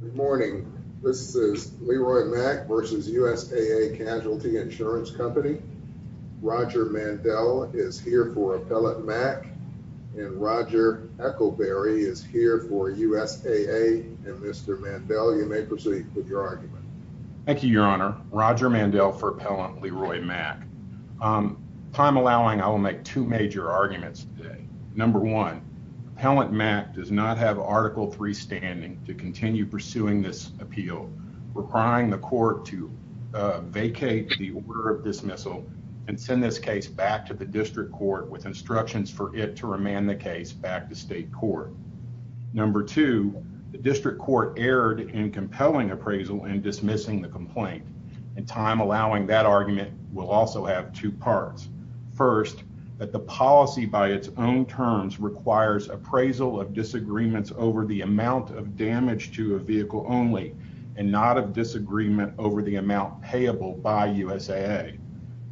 Good morning. This is Leroy Mack v. USAA Casualty Insurance Company. Roger Mandell is here for Appellant Mack and Roger Eccleberry is here for USAA. And Mr. Mandell, you may proceed with your argument. Thank you, Your Honor. Roger Mandell for Appellant Leroy Mack. Time allowing, I will make two major arguments today. Number one, Appellant Mack does not have Article III standing to continue pursuing this appeal requiring the court to vacate the order of dismissal and send this case back to the district court with instructions for it to remand the case back to state court. Number two, the district court erred in compelling appraisal in dismissing the complaint and time allowing that argument will also have two parts. First, that the policy by its own terms requires appraisal of disagreements over the amount of damage to a vehicle only and not of disagreement over the amount payable by USAA.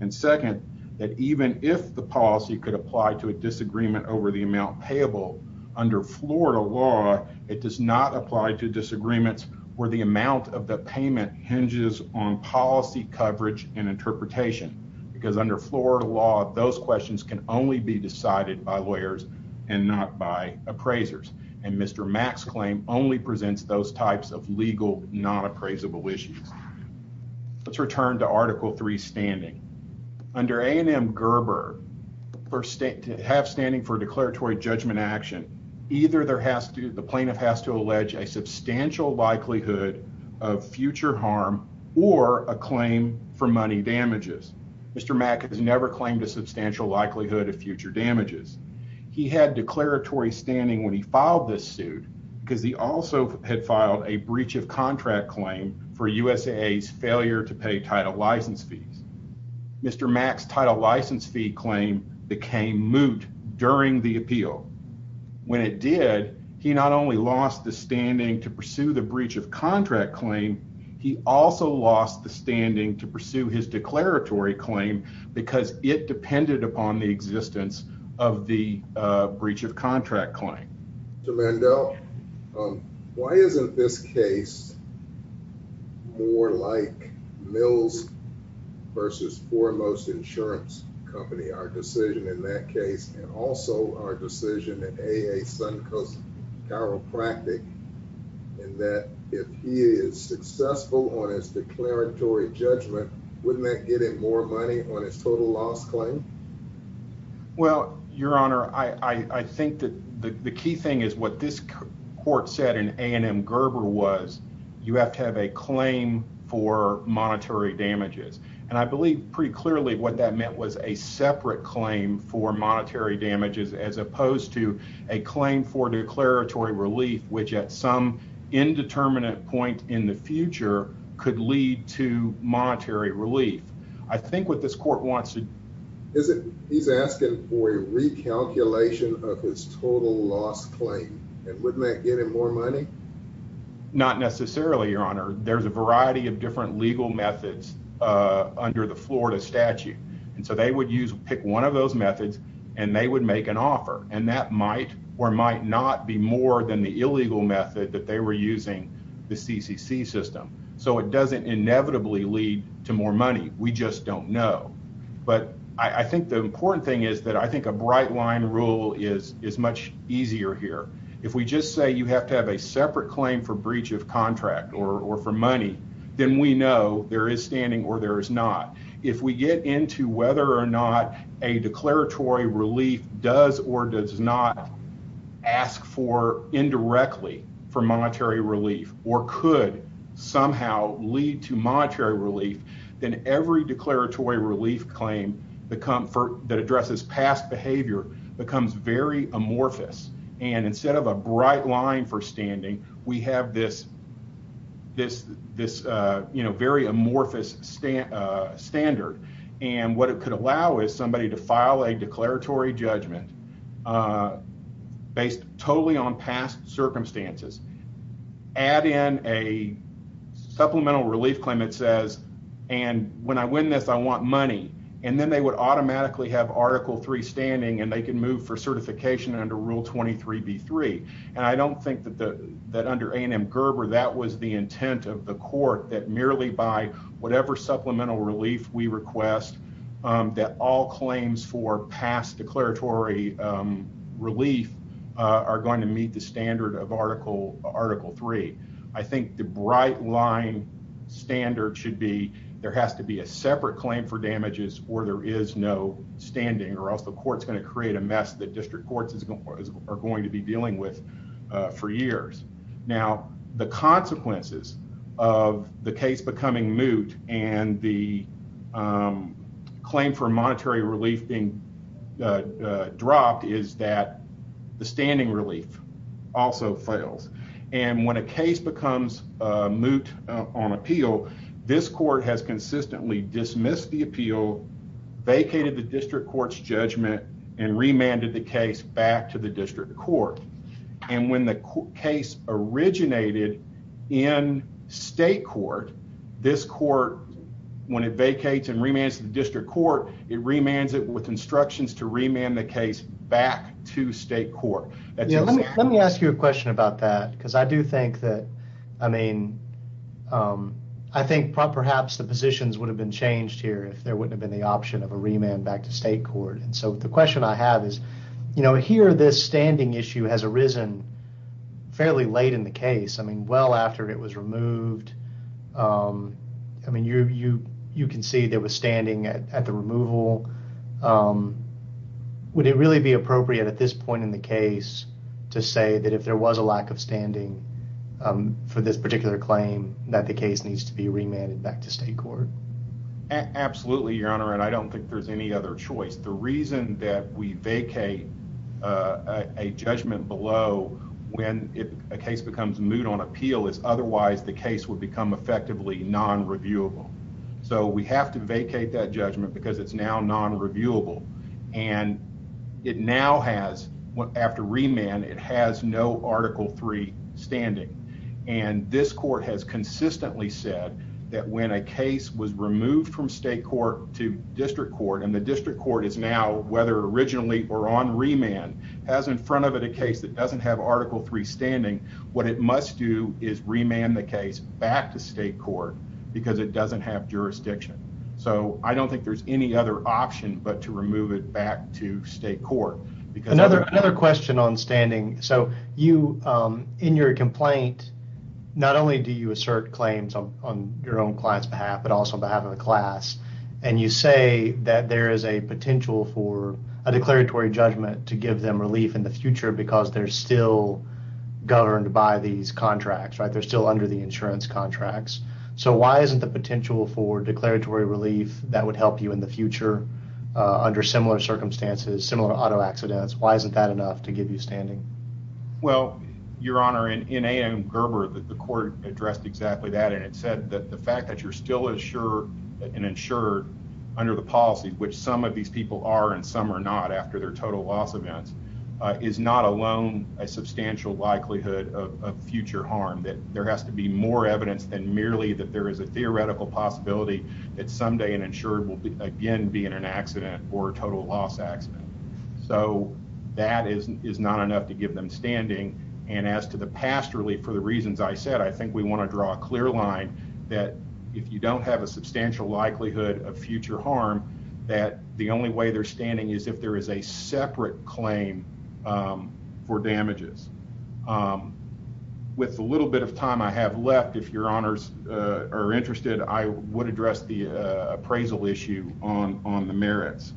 And second, that even if the policy could apply to a disagreement over the amount payable under Florida law, it does not apply to disagreements where the amount of the payment hinges on policy coverage and interpretation because under Florida law, those questions can only be decided by lawyers and not by appraisers. And Mr. Mack's claim only presents those types of legal, not appraisable issues. Let's return to Article III standing. Under A&M Gerber, to have standing for declaratory judgment action, either the plaintiff has to allege a substantial likelihood of future harm or a claim for money damages. Mr. Mack has never claimed a substantial likelihood of future damages. He had declaratory standing when he filed this suit because he also had filed a breach of contract claim for USAA's failure to pay title license fees. Mr. Mack's title license fee claim became moot during the appeal. When it did, he not only lost the standing to pursue the breach of contract claim, he also lost the standing to get dependent upon the existence of the breach of contract claim. Mr. Mandel, why isn't this case more like Mills versus Foremost Insurance Company, our decision in that case, and also our decision that AA Suncoast Chiropractic, and that if he is successful on his declaratory judgment, wouldn't that get him more money on his total loss claim? Well, Your Honor, I think that the key thing is what this court said in A&M Gerber was, you have to have a claim for monetary damages. And I believe pretty clearly what that meant was a separate claim for monetary damages as opposed to a claim for declaratory relief, which at some indeterminate point in the future could lead to monetary relief. I think what this court wants to... He's asking for a recalculation of his total loss claim, and wouldn't that get him more money? Not necessarily, Your Honor. There's a variety of different legal methods under the Florida statute, and so they would pick one of those methods and they would make an offer. And that might or might not be more than the illegal method that they were using, the CCC system. So it doesn't inevitably lead to more money. We just don't know. But I think the important thing is that I think a bright line rule is much easier here. If we just say you have to have a separate claim for breach of contract or for money, then we know there is standing or there is not. If we get into whether or not a declaratory relief does or does not ask for indirectly for monetary relief or could somehow lead to monetary relief, then every declaratory relief claim that addresses past behavior becomes very amorphous. And instead of a bright line for standing, we have this very amorphous standard. And what it could allow is somebody to file a declaratory judgment based totally on past circumstances, add in a supplemental relief claim that says, and when I win this, I want money. And then they would automatically have Article 3 standing, and they can move for certification under Rule 23B3. And I don't think that under A&M Gerber, that was the intent of the court, that merely by whatever supplemental relief we request, that all claims for past declaratory relief are going to meet the standard of Article 3. I think the bright line standard should be there has to be a separate claim for damages or there is no standing or else the court's going to create a mess that district courts are going to be dealing with for years. Now, the consequences of the case becoming moot and the claim for monetary relief being dropped is that the standing relief also fails. And when a case becomes moot on appeal, this court has consistently dismissed the appeal, vacated the district court's judgment, and remanded the case back to the district court. And when the case originated in state court, this court, when it vacates and remands the district court, it remands it with instructions to remand the case back to state court. Let me ask you a question about that because I do think that, I mean, I think perhaps the positions would have been changed here if there wouldn't have been the option of a remand back to state court. And so the question I have is, you know, here, this standing issue has arisen fairly late in the case. I mean, well after it was removed. I mean, you can see there was standing at the removal. Would it really be appropriate at this point in the case to say that if there was a lack of standing for this particular claim that the there's any other choice? The reason that we vacate a judgment below when a case becomes moot on appeal is otherwise the case would become effectively non-reviewable. So we have to vacate that judgment because it's now non-reviewable. And it now has, after remand, it has no Article 3 standing. And this court has consistently said that when a case was removed from state court to district court and the district court is now, whether originally or on remand, has in front of it a case that doesn't have Article 3 standing. What it must do is remand the case back to state court because it doesn't have jurisdiction. So I don't think there's any other option but to remove it back to state court. Another question on standing. So you, in your complaint, not only do you assert claims on your own client's behalf, but also on behalf of the class. And you say that there is a potential for a declaratory judgment to give them relief in the future because they're still governed by these contracts, right? They're still under the insurance contracts. So why isn't the potential for declaratory relief that would help you in the circumstances, similar to auto accidents, why isn't that enough to give you standing? Well, Your Honor, in A.M. Gerber, the court addressed exactly that. And it said that the fact that you're still insured under the policy, which some of these people are and some are not after their total loss events, is not alone a substantial likelihood of future harm. That there has to be more evidence than merely that there is a theoretical possibility that someday an insured will again be in an accident or a total loss accident. So that is not enough to give them standing. And as to the past relief, for the reasons I said, I think we want to draw a clear line that if you don't have a substantial likelihood of future harm, that the only way they're standing is if there is a separate claim for damages. With the little bit of time I have left, if Your Honors are interested, I would address the appraisal issue on the merits.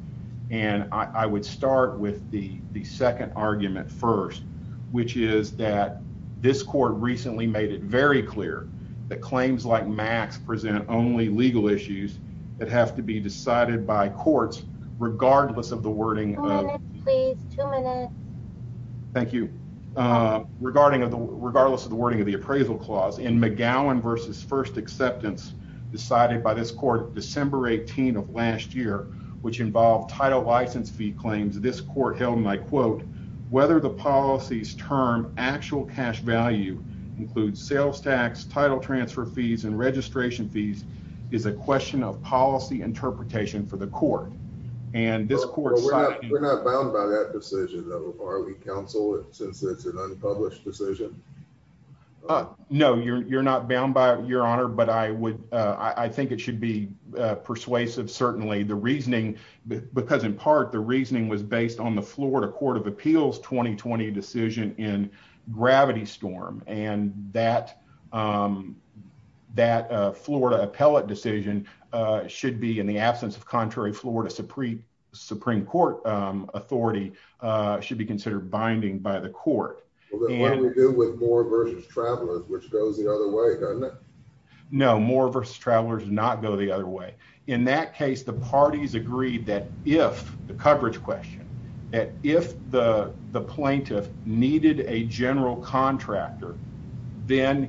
And I would start with the second argument first, which is that this court recently made it very clear that claims like Max present only legal issues that have to be decided by courts, regardless of the wording. Thank you. Regardless of the wording of the appraisal clause, in McGowan versus first acceptance decided by this court December 18 of last year, which involved title license fee claims, this court held my quote, whether the policies term actual cash value includes sales tax, title transfer fees and registration fees is a question of policy interpretation for the court. And this court, we're not bound by that decision that we counsel since it's an unpublished decision. No, you're not bound by your honor, but I would I think it should be persuasive. Certainly the reasoning, because in part the reasoning was based on the Florida Court of Appeals 2020 decision in Gravity Storm and that that Florida appellate decision should be in the absence of contrary Florida Supreme Supreme Court authority should be binding by the court with more versus travelers, which goes the other way, doesn't it? No, more versus travelers not go the other way. In that case, the parties agreed that if the coverage question that if the plaintiff needed a general contractor, then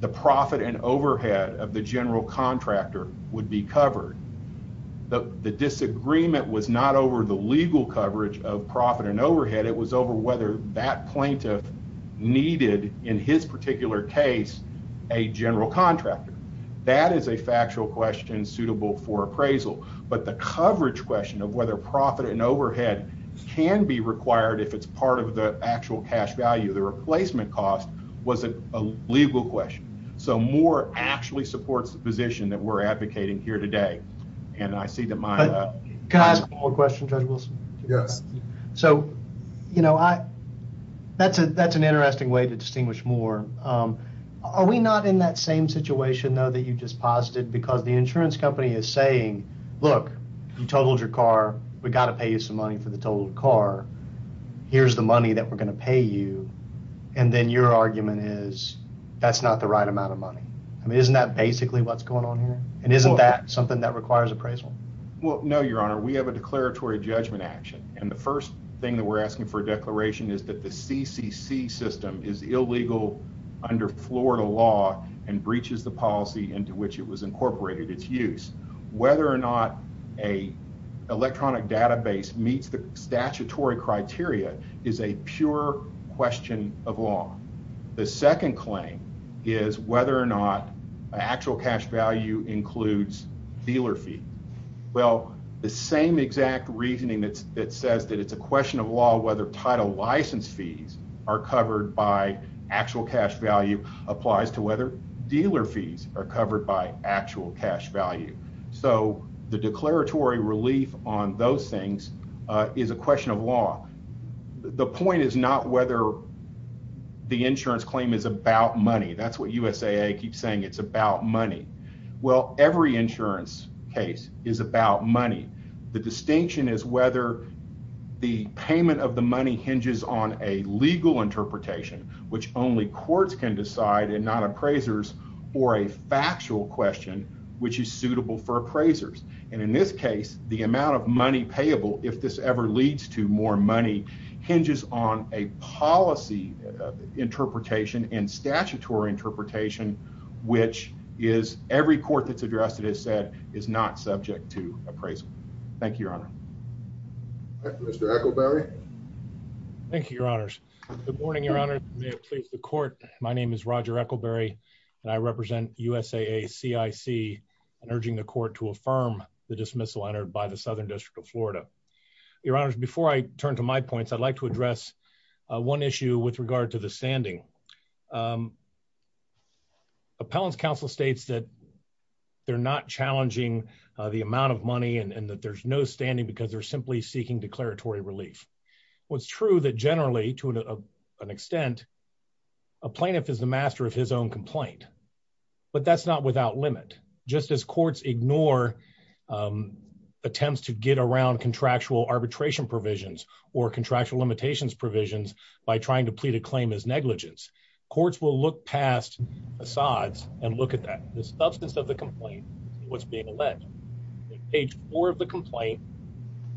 the profit and overhead of the general contractor would be covered. The disagreement was not over the legal coverage of profit and overhead. It was over whether that plaintiff needed in his particular case, a general contractor. That is a factual question suitable for appraisal. But the coverage question of whether profit and overhead can be required if it's part of the actual cash value of the replacement cost was a legal question. So more actually supports the position that we're So, you know, I that's a that's an interesting way to distinguish more. Are we not in that same situation, though, that you just posited? Because the insurance company is saying, look, you totaled your car. We got to pay you some money for the total car. Here's the money that we're going to pay you. And then your argument is that's not the right amount of money. I mean, isn't that basically what's going on here? And isn't that something that requires appraisal? Well, no, Your Honor, we have a declaratory judgment action. And the first we're asking for declaration is that the CCC system is illegal under Florida law and breaches the policy into which it was incorporated its use. Whether or not a electronic database meets the statutory criteria is a pure question of law. The second claim is whether or not actual cash value includes dealer fee. Well, the same exact reasoning that says that it's a question of law, whether title license fees are covered by actual cash value applies to whether dealer fees are covered by actual cash value. So the declaratory relief on those things is a question of law. The point is not whether the insurance claim is about money. That's what USAA keeps saying. It's about money. Well, every insurance case is about money. The distinction is whether the payment of the money hinges on a legal interpretation, which only courts can decide and not appraisers, or a factual question which is suitable for appraisers. And in this case, the amount of money payable, if this ever leads to more money, hinges on a policy interpretation and statutory interpretation, which is every court that's addressed it has said is not subject to Mr. Ekelberry. Thank you, Your Honors. Good morning, Your Honor. May it please the court. My name is Roger Ekelberry, and I represent USAA CIC and urging the court to affirm the dismissal entered by the Southern District of Florida. Your Honors, before I turn to my points, I'd like to address one issue with regard to the standing. Appellants Council states that they're not simply seeking declaratory relief. What's true that generally, to an extent, a plaintiff is the master of his own complaint, but that's not without limit. Just as courts ignore attempts to get around contractual arbitration provisions or contractual limitations provisions by trying to plead a claim as negligence, courts will look past Assad's and look at that. The substance of complaint is what's being alleged. On page four of the complaint,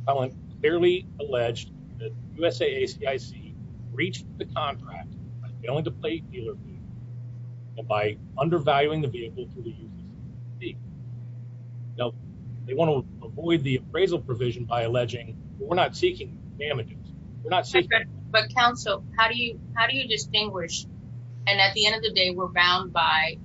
appellant clearly alleged that USAA CIC breached the contract by failing to pay dealer fee and by undervaluing the vehicle to the users. Now, they want to avoid the appraisal provision by alleging, but we're not seeking damages. We're not seeking damages. But counsel, how do you distinguish? And at the end of the day, we're bound by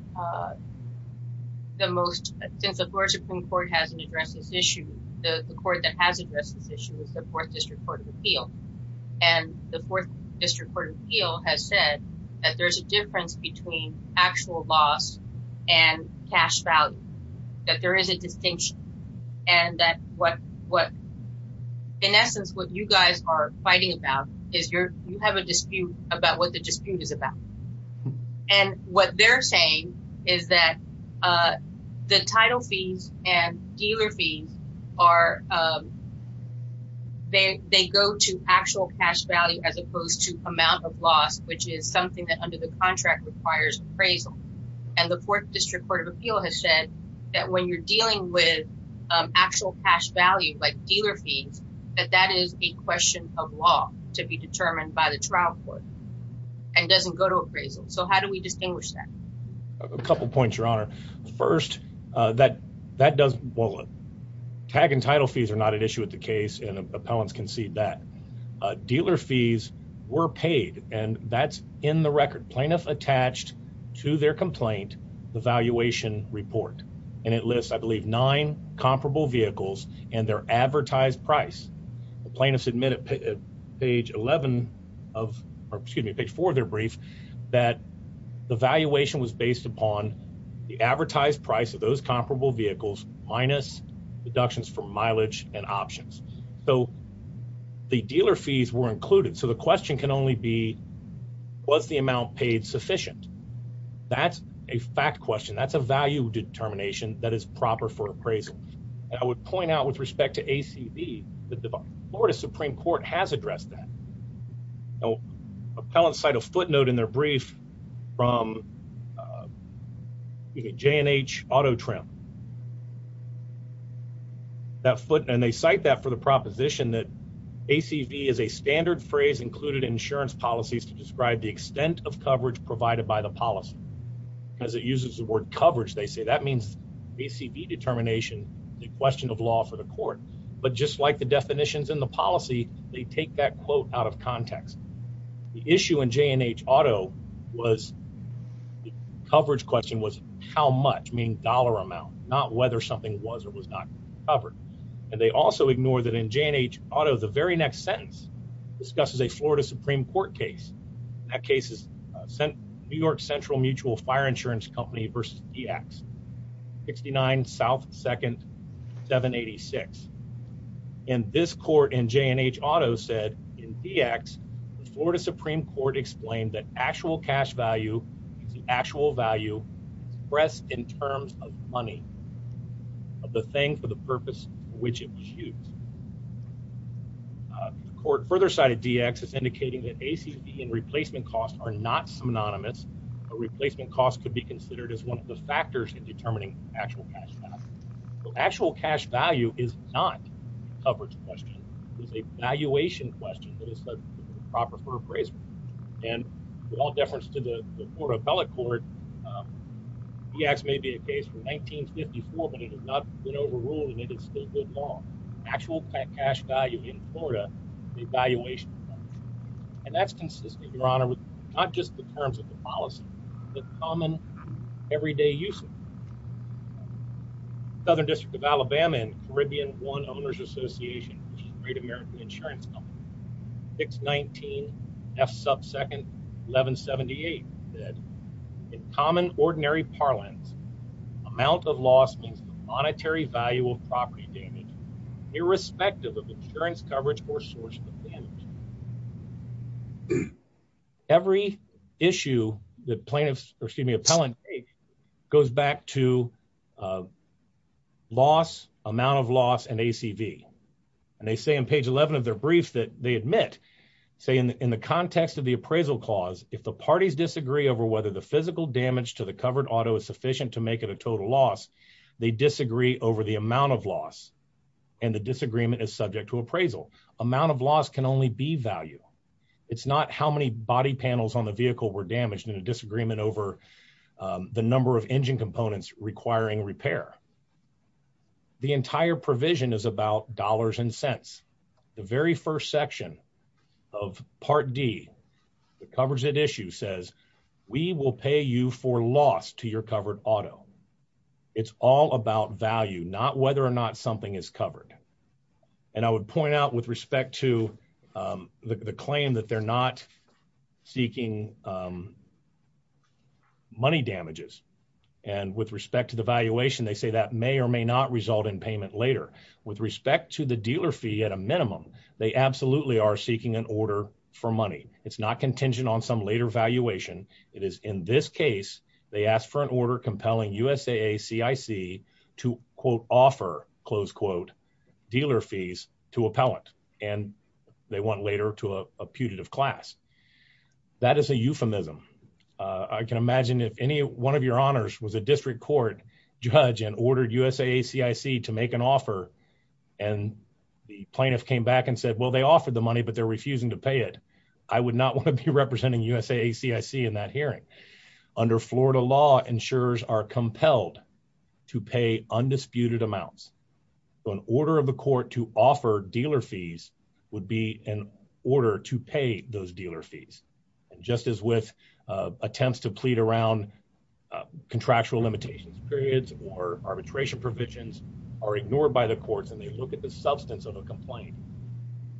the most, since the Florida Supreme Court hasn't addressed this issue, the court that has addressed this issue is the Fourth District Court of Appeal. And the Fourth District Court of Appeal has said that there's a difference between actual loss and cash value, that there is a distinction, and that what, in essence, what you guys are fighting about is you have a And what they're saying is that the title fees and dealer fees are, they go to actual cash value as opposed to amount of loss, which is something that under the contract requires appraisal. And the Fourth District Court of Appeal has said that when you're dealing with actual cash value, like dealer fees, that that is a question of law to be determined by the trial and doesn't go to appraisal. So how do we distinguish that? A couple points, Your Honor. First, that does, well, tag and title fees are not an issue with the case, and appellants can see that. Dealer fees were paid, and that's in the record. Plaintiff attached to their complaint the valuation report, and it lists, I believe, nine comparable vehicles and their advertised price. The plaintiffs admit at page 11 of, or excuse me, page 4 of their brief, that the valuation was based upon the advertised price of those comparable vehicles minus deductions for mileage and options. So the dealer fees were included. So the question can only be, was the amount paid sufficient? That's a fact question. That's a value determination that is proper for appraisal. I would point out with respect to ACV that the Florida Supreme Court has addressed that. Now, appellants cite a footnote in their brief from J&H Auto Trim. That footnote, and they cite that for the proposition that ACV is a standard phrase included in insurance policies to describe the extent of coverage provided by the policy. Because it uses the word coverage, they say that means ACV determination, the question of law for the court. But just like the definitions in the policy, they take that quote out of context. The issue in J&H Auto was, the coverage question was how much, meaning dollar amount, not whether something was or was not covered. And they also ignore that in J&H Auto, the very next sentence discusses a Florida Supreme Court case. That case is New York Central Mutual Fire Insurance Company versus DX, 69 South 2nd 786. And this court in J&H Auto said in DX, the Florida Supreme Court explained that actual cash value is the actual value expressed in terms of money, of the thing for the purpose for which it was used. The court further cited DX as indicating that ACV and replacement costs are not synonymous. A replacement cost could be considered as one of the factors in determining actual cash value. So actual cash value is not a coverage question. It's a valuation question that is a proper phrase. And with all deference to the 1954, but it has not been overruled and it is still good law. Actual cash value in Florida, the evaluation. And that's consistent, Your Honor, with not just the terms of the policy, the common everyday use of it. Southern District of Alabama and Caribbean One Owners Association, Great American Insurance Company, 619 F 2nd 1178 said, in common ordinary parlance, amount of loss means the monetary value of property damage, irrespective of insurance coverage or sources of damage. Every issue that plaintiffs, excuse me, appellant goes back to loss, amount of loss and ACV. And they say in page 11 of their brief that they admit, say in the context of the appraisal clause, if the parties disagree over whether the physical damage to the covered auto is sufficient to make it a total loss, they disagree over the amount of loss and the disagreement is subject to appraisal. Amount of loss can only be value. It's not how many body panels on the vehicle were damaged in a disagreement over the number of engine components requiring repair. The entire provision is about dollars and cents. The very first section of Part D, the coverage that issue says, we will pay you for loss to your covered auto. It's all about value, not whether or not something is covered. And I would point out with respect to the claim that they're not seeking money damages. And with respect to the valuation, they say that may or may not result in payment later. With respect to the dealer fee at a minimum, they absolutely are seeking an order for money. It's not contingent on some later valuation. It is in this case, they asked for an order compelling USAA CIC to quote offer close quote dealer fees to appellant and they want later to a putative class. That is a euphemism. I can imagine if any one of your honors was a district court judge and ordered USAA CIC to make an offer and the plaintiff came back and said, well, they offered the money, but they're refusing to pay it. I would not want to be representing USAA CIC in that hearing. Under Florida law insurers are compelled to pay undisputed amounts. So an order of the court to offer dealer fees would be an order to pay those dealer fees. And just as with attempts to plead around contractual limitations, periods or arbitration provisions are ignored by the courts and they look at the substance of a complaint.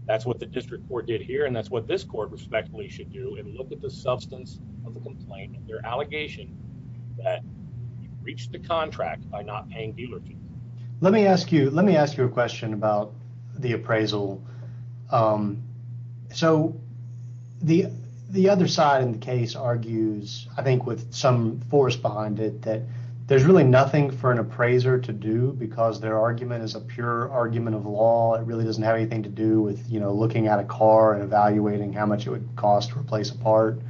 That's what the district court did here. And that's what this court respectfully should do and look at the substance of the complaint, their allegation that reached the contract by not paying dealer fees. Let me ask you, let me ask you a question about the appraisal. So the other side in the case argues, I think with some force behind it, that there's really nothing for an appraiser to do because their argument is a pure argument of law. It really doesn't have anything to do with, you know, looking at a car and evaluating how much it would cost to replace a part.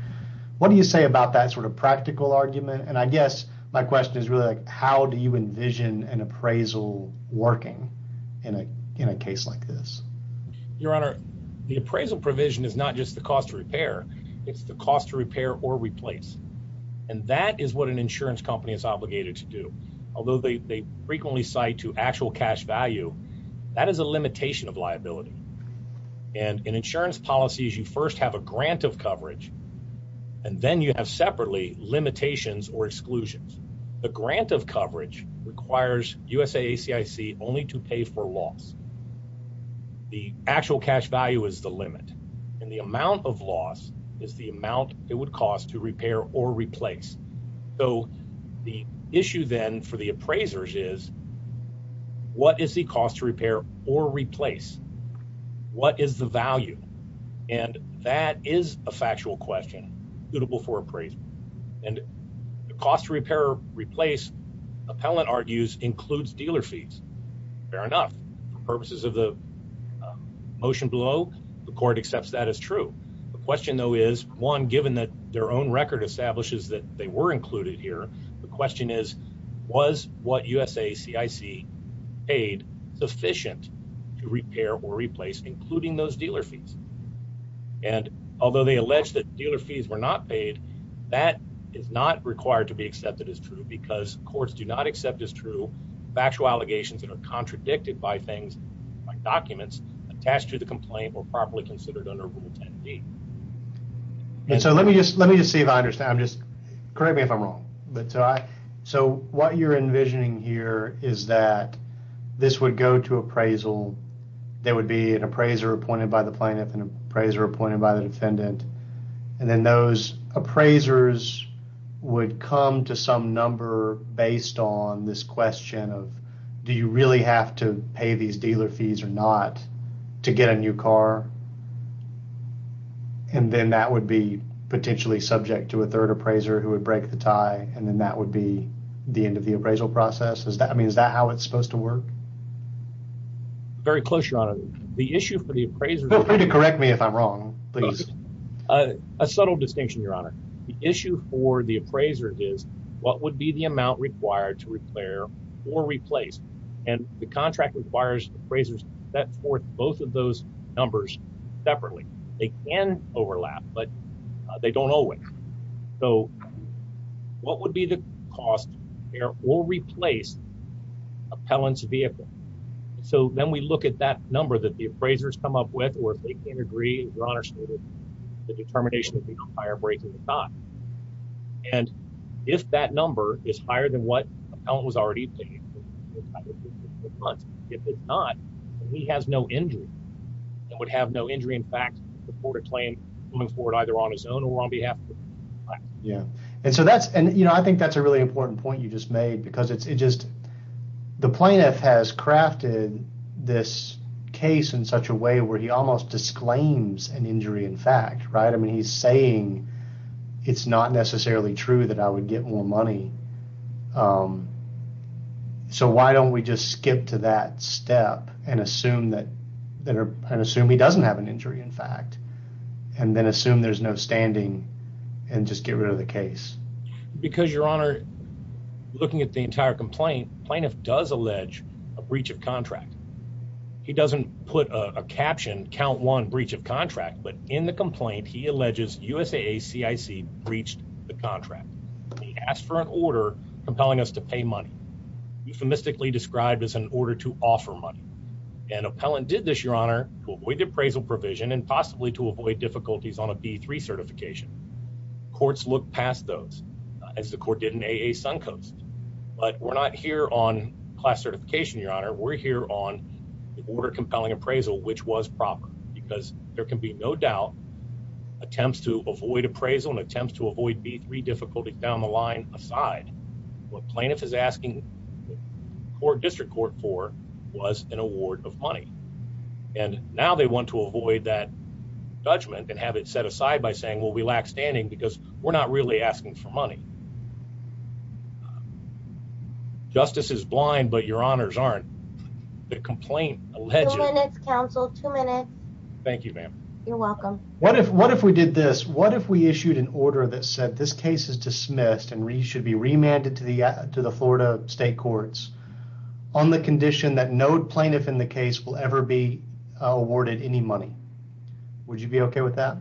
What do you say about that sort of practical argument? And I guess my question is really how do you envision an working in a case like this? Your Honor, the appraisal provision is not just the cost to repair, it's the cost to repair or replace. And that is what an insurance company is obligated to do. Although they frequently cite to actual cash value, that is a limitation of liability. And in insurance policies, you first have a grant of coverage and then you have separately limitations or exclusions. The grant of coverage requires USAACIC only to pay for loss. The actual cash value is the limit and the amount of loss is the amount it would cost to repair or replace. So the issue then for the appraisers is what is the cost to repair or replace? What is the value? And that is a factual question suitable for appraisal. And the cost to repair or replace, appellant argues, includes dealer fees. Fair enough. For purposes of the motion below, the court accepts that as true. The question though is, one, given that their own record establishes that they were included here, the question is, was what USAACIC paid sufficient to repair or replace, including those dealer fees? And although they allege that dealer fees were not paid, that is not required to be accepted as true because courts do not accept as true factual allegations that are contradicted by things like documents attached to the complaint or properly considered under Rule 10B. And so let me just see if I understand. Correct me if I'm is that this would go to appraisal. There would be an appraiser appointed by the plaintiff and appraiser appointed by the defendant. And then those appraisers would come to some number based on this question of, do you really have to pay these dealer fees or not to get a new car? And then that would be potentially subject to a third appraiser who would break the tie. And then that would be the end of the appraisal process. Is that, I mean, is that how it's supposed to work? Very close, Your Honor. The issue for the appraiser... Feel free to correct me if I'm wrong, please. A subtle distinction, Your Honor. The issue for the appraiser is, what would be the amount required to repair or replace? And the contract requires appraisers to set forth both of those numbers separately. They can overlap, but they don't always. So what would be the cost to repair or replace appellant's vehicle? So then we look at that number that the appraisers come up with, or if they can't agree, as Your Honor stated, the determination would be on fire breaking the tie. And if that number is higher than what appellant was already paid, if it's not, he has no injury and would have no injury. In fact, report a claim coming forward either on his own or on behalf of the plaintiff. Yeah. And so that's, you know, I think that's a really important point you just made because it's just, the plaintiff has crafted this case in such a way where he almost disclaims an injury in fact, right? I mean, he's saying it's not necessarily true that I would get more money. So why don't we just skip to that step and assume that, and assume he doesn't have an and then assume there's no standing and just get rid of the case. Because Your Honor, looking at the entire complaint, plaintiff does allege a breach of contract. He doesn't put a caption, count one breach of contract, but in the complaint, he alleges USAA CIC breached the contract. He asked for an order compelling us to pay money, euphemistically described as an order to offer money. And appellant did this, Your Honor, to avoid the appraisal provision and possibly to avoid difficulties on a B3 certification. Courts look past those, as the court did in AA Suncoast. But we're not here on class certification, Your Honor. We're here on the order compelling appraisal, which was proper, because there can be no doubt attempts to avoid appraisal and attempts to avoid B3 difficulty down the line aside, what plaintiff is asking court district court for was an award of money. And now they want to avoid that judgment and have it set aside by saying, well, we lack standing because we're not really asking for money. Justice is blind, but Your Honors aren't. The complaint alleged... Two minutes, counsel, two minutes. Thank you, ma'am. You're welcome. What if we did this? What if we issued an order that said this case is dismissed and should be remanded to the Florida state courts on the condition that no plaintiff in the case will ever be awarded any money? Would you be okay with that?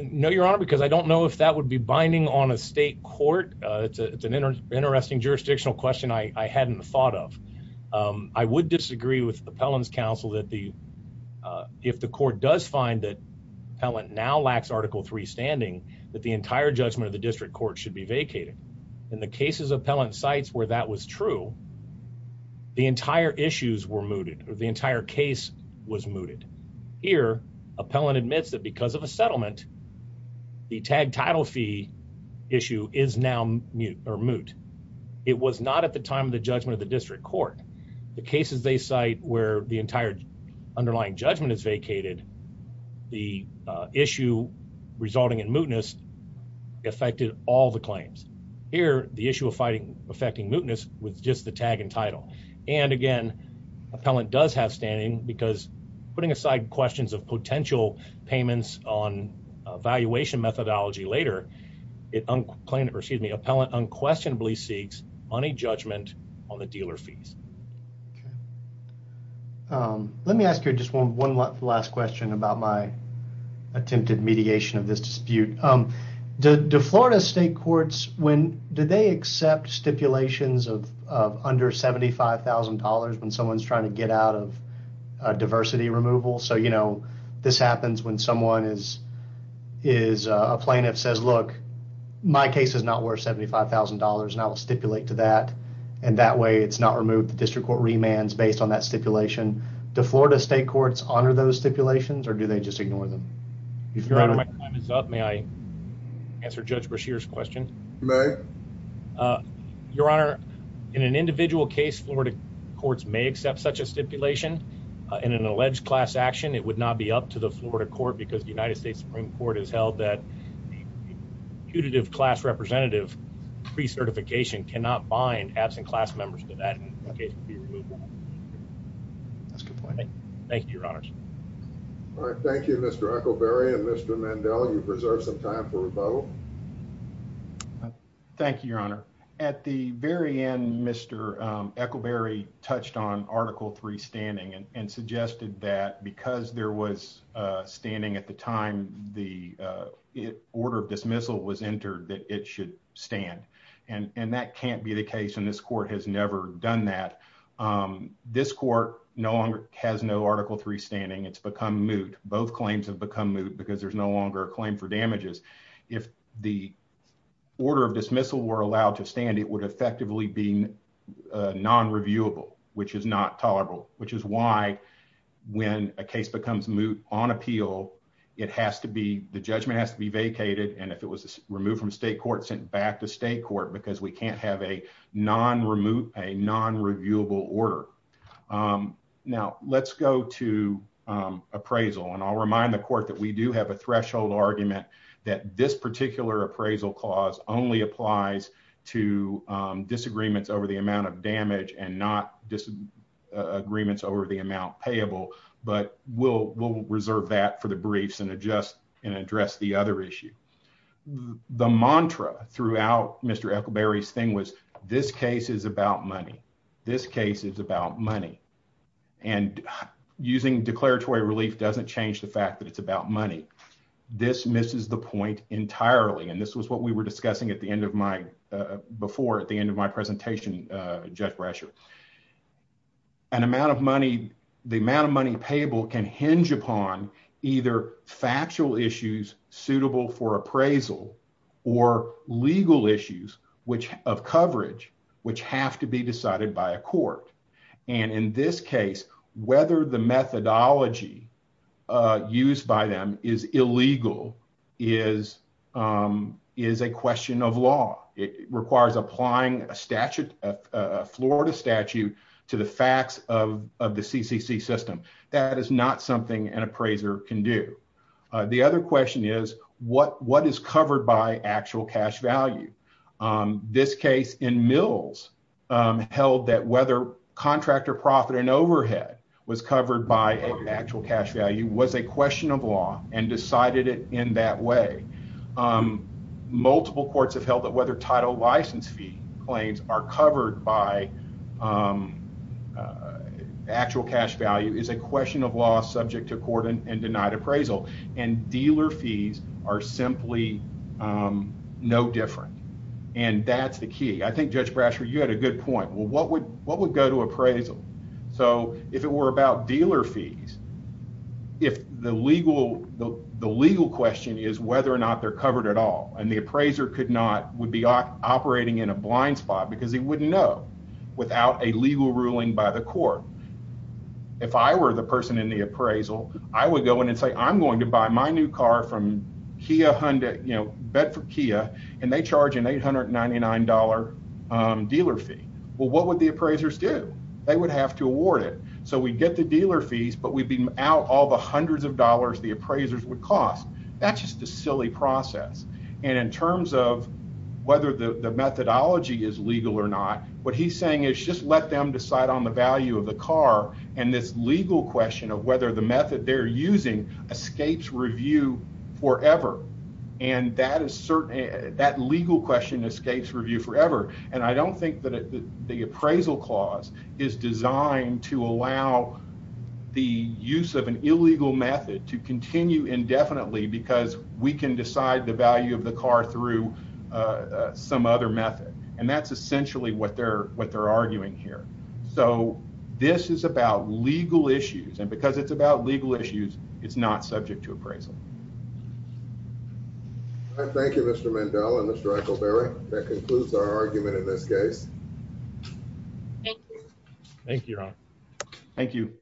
No, Your Honor, because I don't know if that would be binding on a state court. It's an interesting jurisdictional question I hadn't thought of. I would disagree with the appellant's counsel that if the court does find that lacks article three standing, that the entire judgment of the district court should be vacated. In the cases appellant cites where that was true, the entire issues were mooted or the entire case was mooted. Here, appellant admits that because of a settlement, the tag title fee issue is now moot. It was not at the time of the judgment of the district court. The cases they cite where the entire underlying judgment is vacated, the issue resulting in mootness affected all the claims. Here, the issue of fighting affecting mootness was just the tag and title. And again, appellant does have standing because putting aside questions of potential payments on valuation methodology later, it claimed or excuse me, appellant unquestionably seeks money judgment on the dealer fees. Okay. Let me ask you just one last question about my attempted mediation of this dispute. Do Florida state courts, do they accept stipulations of under $75,000 when someone's trying to get out of diversity removal? So, you know, this happens when someone is a plaintiff says, look, my case is not worth $75,000 and I will stipulate to that. And that way it's not removed. The district court remands based on that stipulation. Do Florida state courts honor those stipulations or do they just ignore them? Your honor, my time is up. May I answer Judge Brashear's question? You may. Your honor, in an individual case, Florida courts may accept such a stipulation in an alleged class action. It would not be up to the Florida court because the United States Supreme Court has held that putative class representative pre certification cannot bind absent class members to that. Okay. That's a good point. Thank you, Your Honor. All right. Thank you, Mr Echo. Barry and Mr Mandela. You preserve some time for rebuttal. Thank you, Your Honor. At the very end, Mr Echo Berry touched on Article three standing and suggested that because there was standing at the time the order of dismissal was entered, that it should stand. And that can't be the case. And this court has never done that. This court no longer has no Article three standing. It's become moot. Both claims have become moot because there's no longer a claim for damages. If the order of dismissal were allowed to stand, it would effectively being non reviewable, which is not tolerable, which is why when a case becomes moot on appeal, it has to be the judgment has to be vacated. And if it was removed from state court sent back to state court because we can't have a non remove a non reviewable order. Um, now let's go to, um, appraisal. And I'll remind the court that we do have a threshold argument that this particular appraisal clause only applies to disagreements over the amount of damage and not disagreements over the amount payable. But we'll reserve that for the briefs and adjust and address the other issue. The mantra throughout Mr Echo Berry's thing was this case is about money. This case is about money and using declaratory relief doesn't change the fact that it's about money. This misses the point entirely. And this was what we were discussing at the end of my before at the end of my presentation, Judge Brasher, an amount of money. The amount of money payable can hinge upon either factual issues suitable for appraisal or legal issues which of coverage which have to be decided by a court. And in this case, whether the methodology used by them is illegal is, um, is a question of law. It requires applying a statute, a Florida statute to the facts of the CCC system. That is not something an appraiser can do. The other question is what what is covered by actual cash value? This case in Mills held that whether contractor profit and overhead was covered by actual cash value was a question of law and decided it in that way. Um, multiple courts have held that whether title license fee claims are covered by, um, uh, actual cash value is a question of law subject to court and denied appraisal and dealer fees are simply, um, no different. And that's the key. I think Judge Brasher, you had a good point. Well, what would what would go to appraisal? So if it were about dealer fees, if the legal the legal question is whether or not they're covered at all and the appraiser could not would be operating in a blind spot because he wouldn't know without a legal ruling by the court. If I were the person in the appraisal, I would go in and say I'm going to buy my new car from Kia, Honda, you know, bed for Kia and they charge an $899 dealer fee. Well, what would the appraisers do? They would have to award it. So we get the dealer fees, but we've been out all the hundreds of dollars the appraisers would cost. That's just a silly process. And in terms of whether the methodology is legal or not, what he's saying is just let them decide on the forever. And that is certainly that legal question escapes review forever. And I don't think that the appraisal clause is designed to allow the use of an illegal method to continue indefinitely because we can decide the value of the car through some other method. And that's essentially what they're what they're arguing here. So this is about legal issues. And because it's about legal issues, it's not subject to appraisal. I thank you, Mr. Mandela. Mr. Eichelberry, that concludes our argument in this case. Thank you. Thank you. Thank you.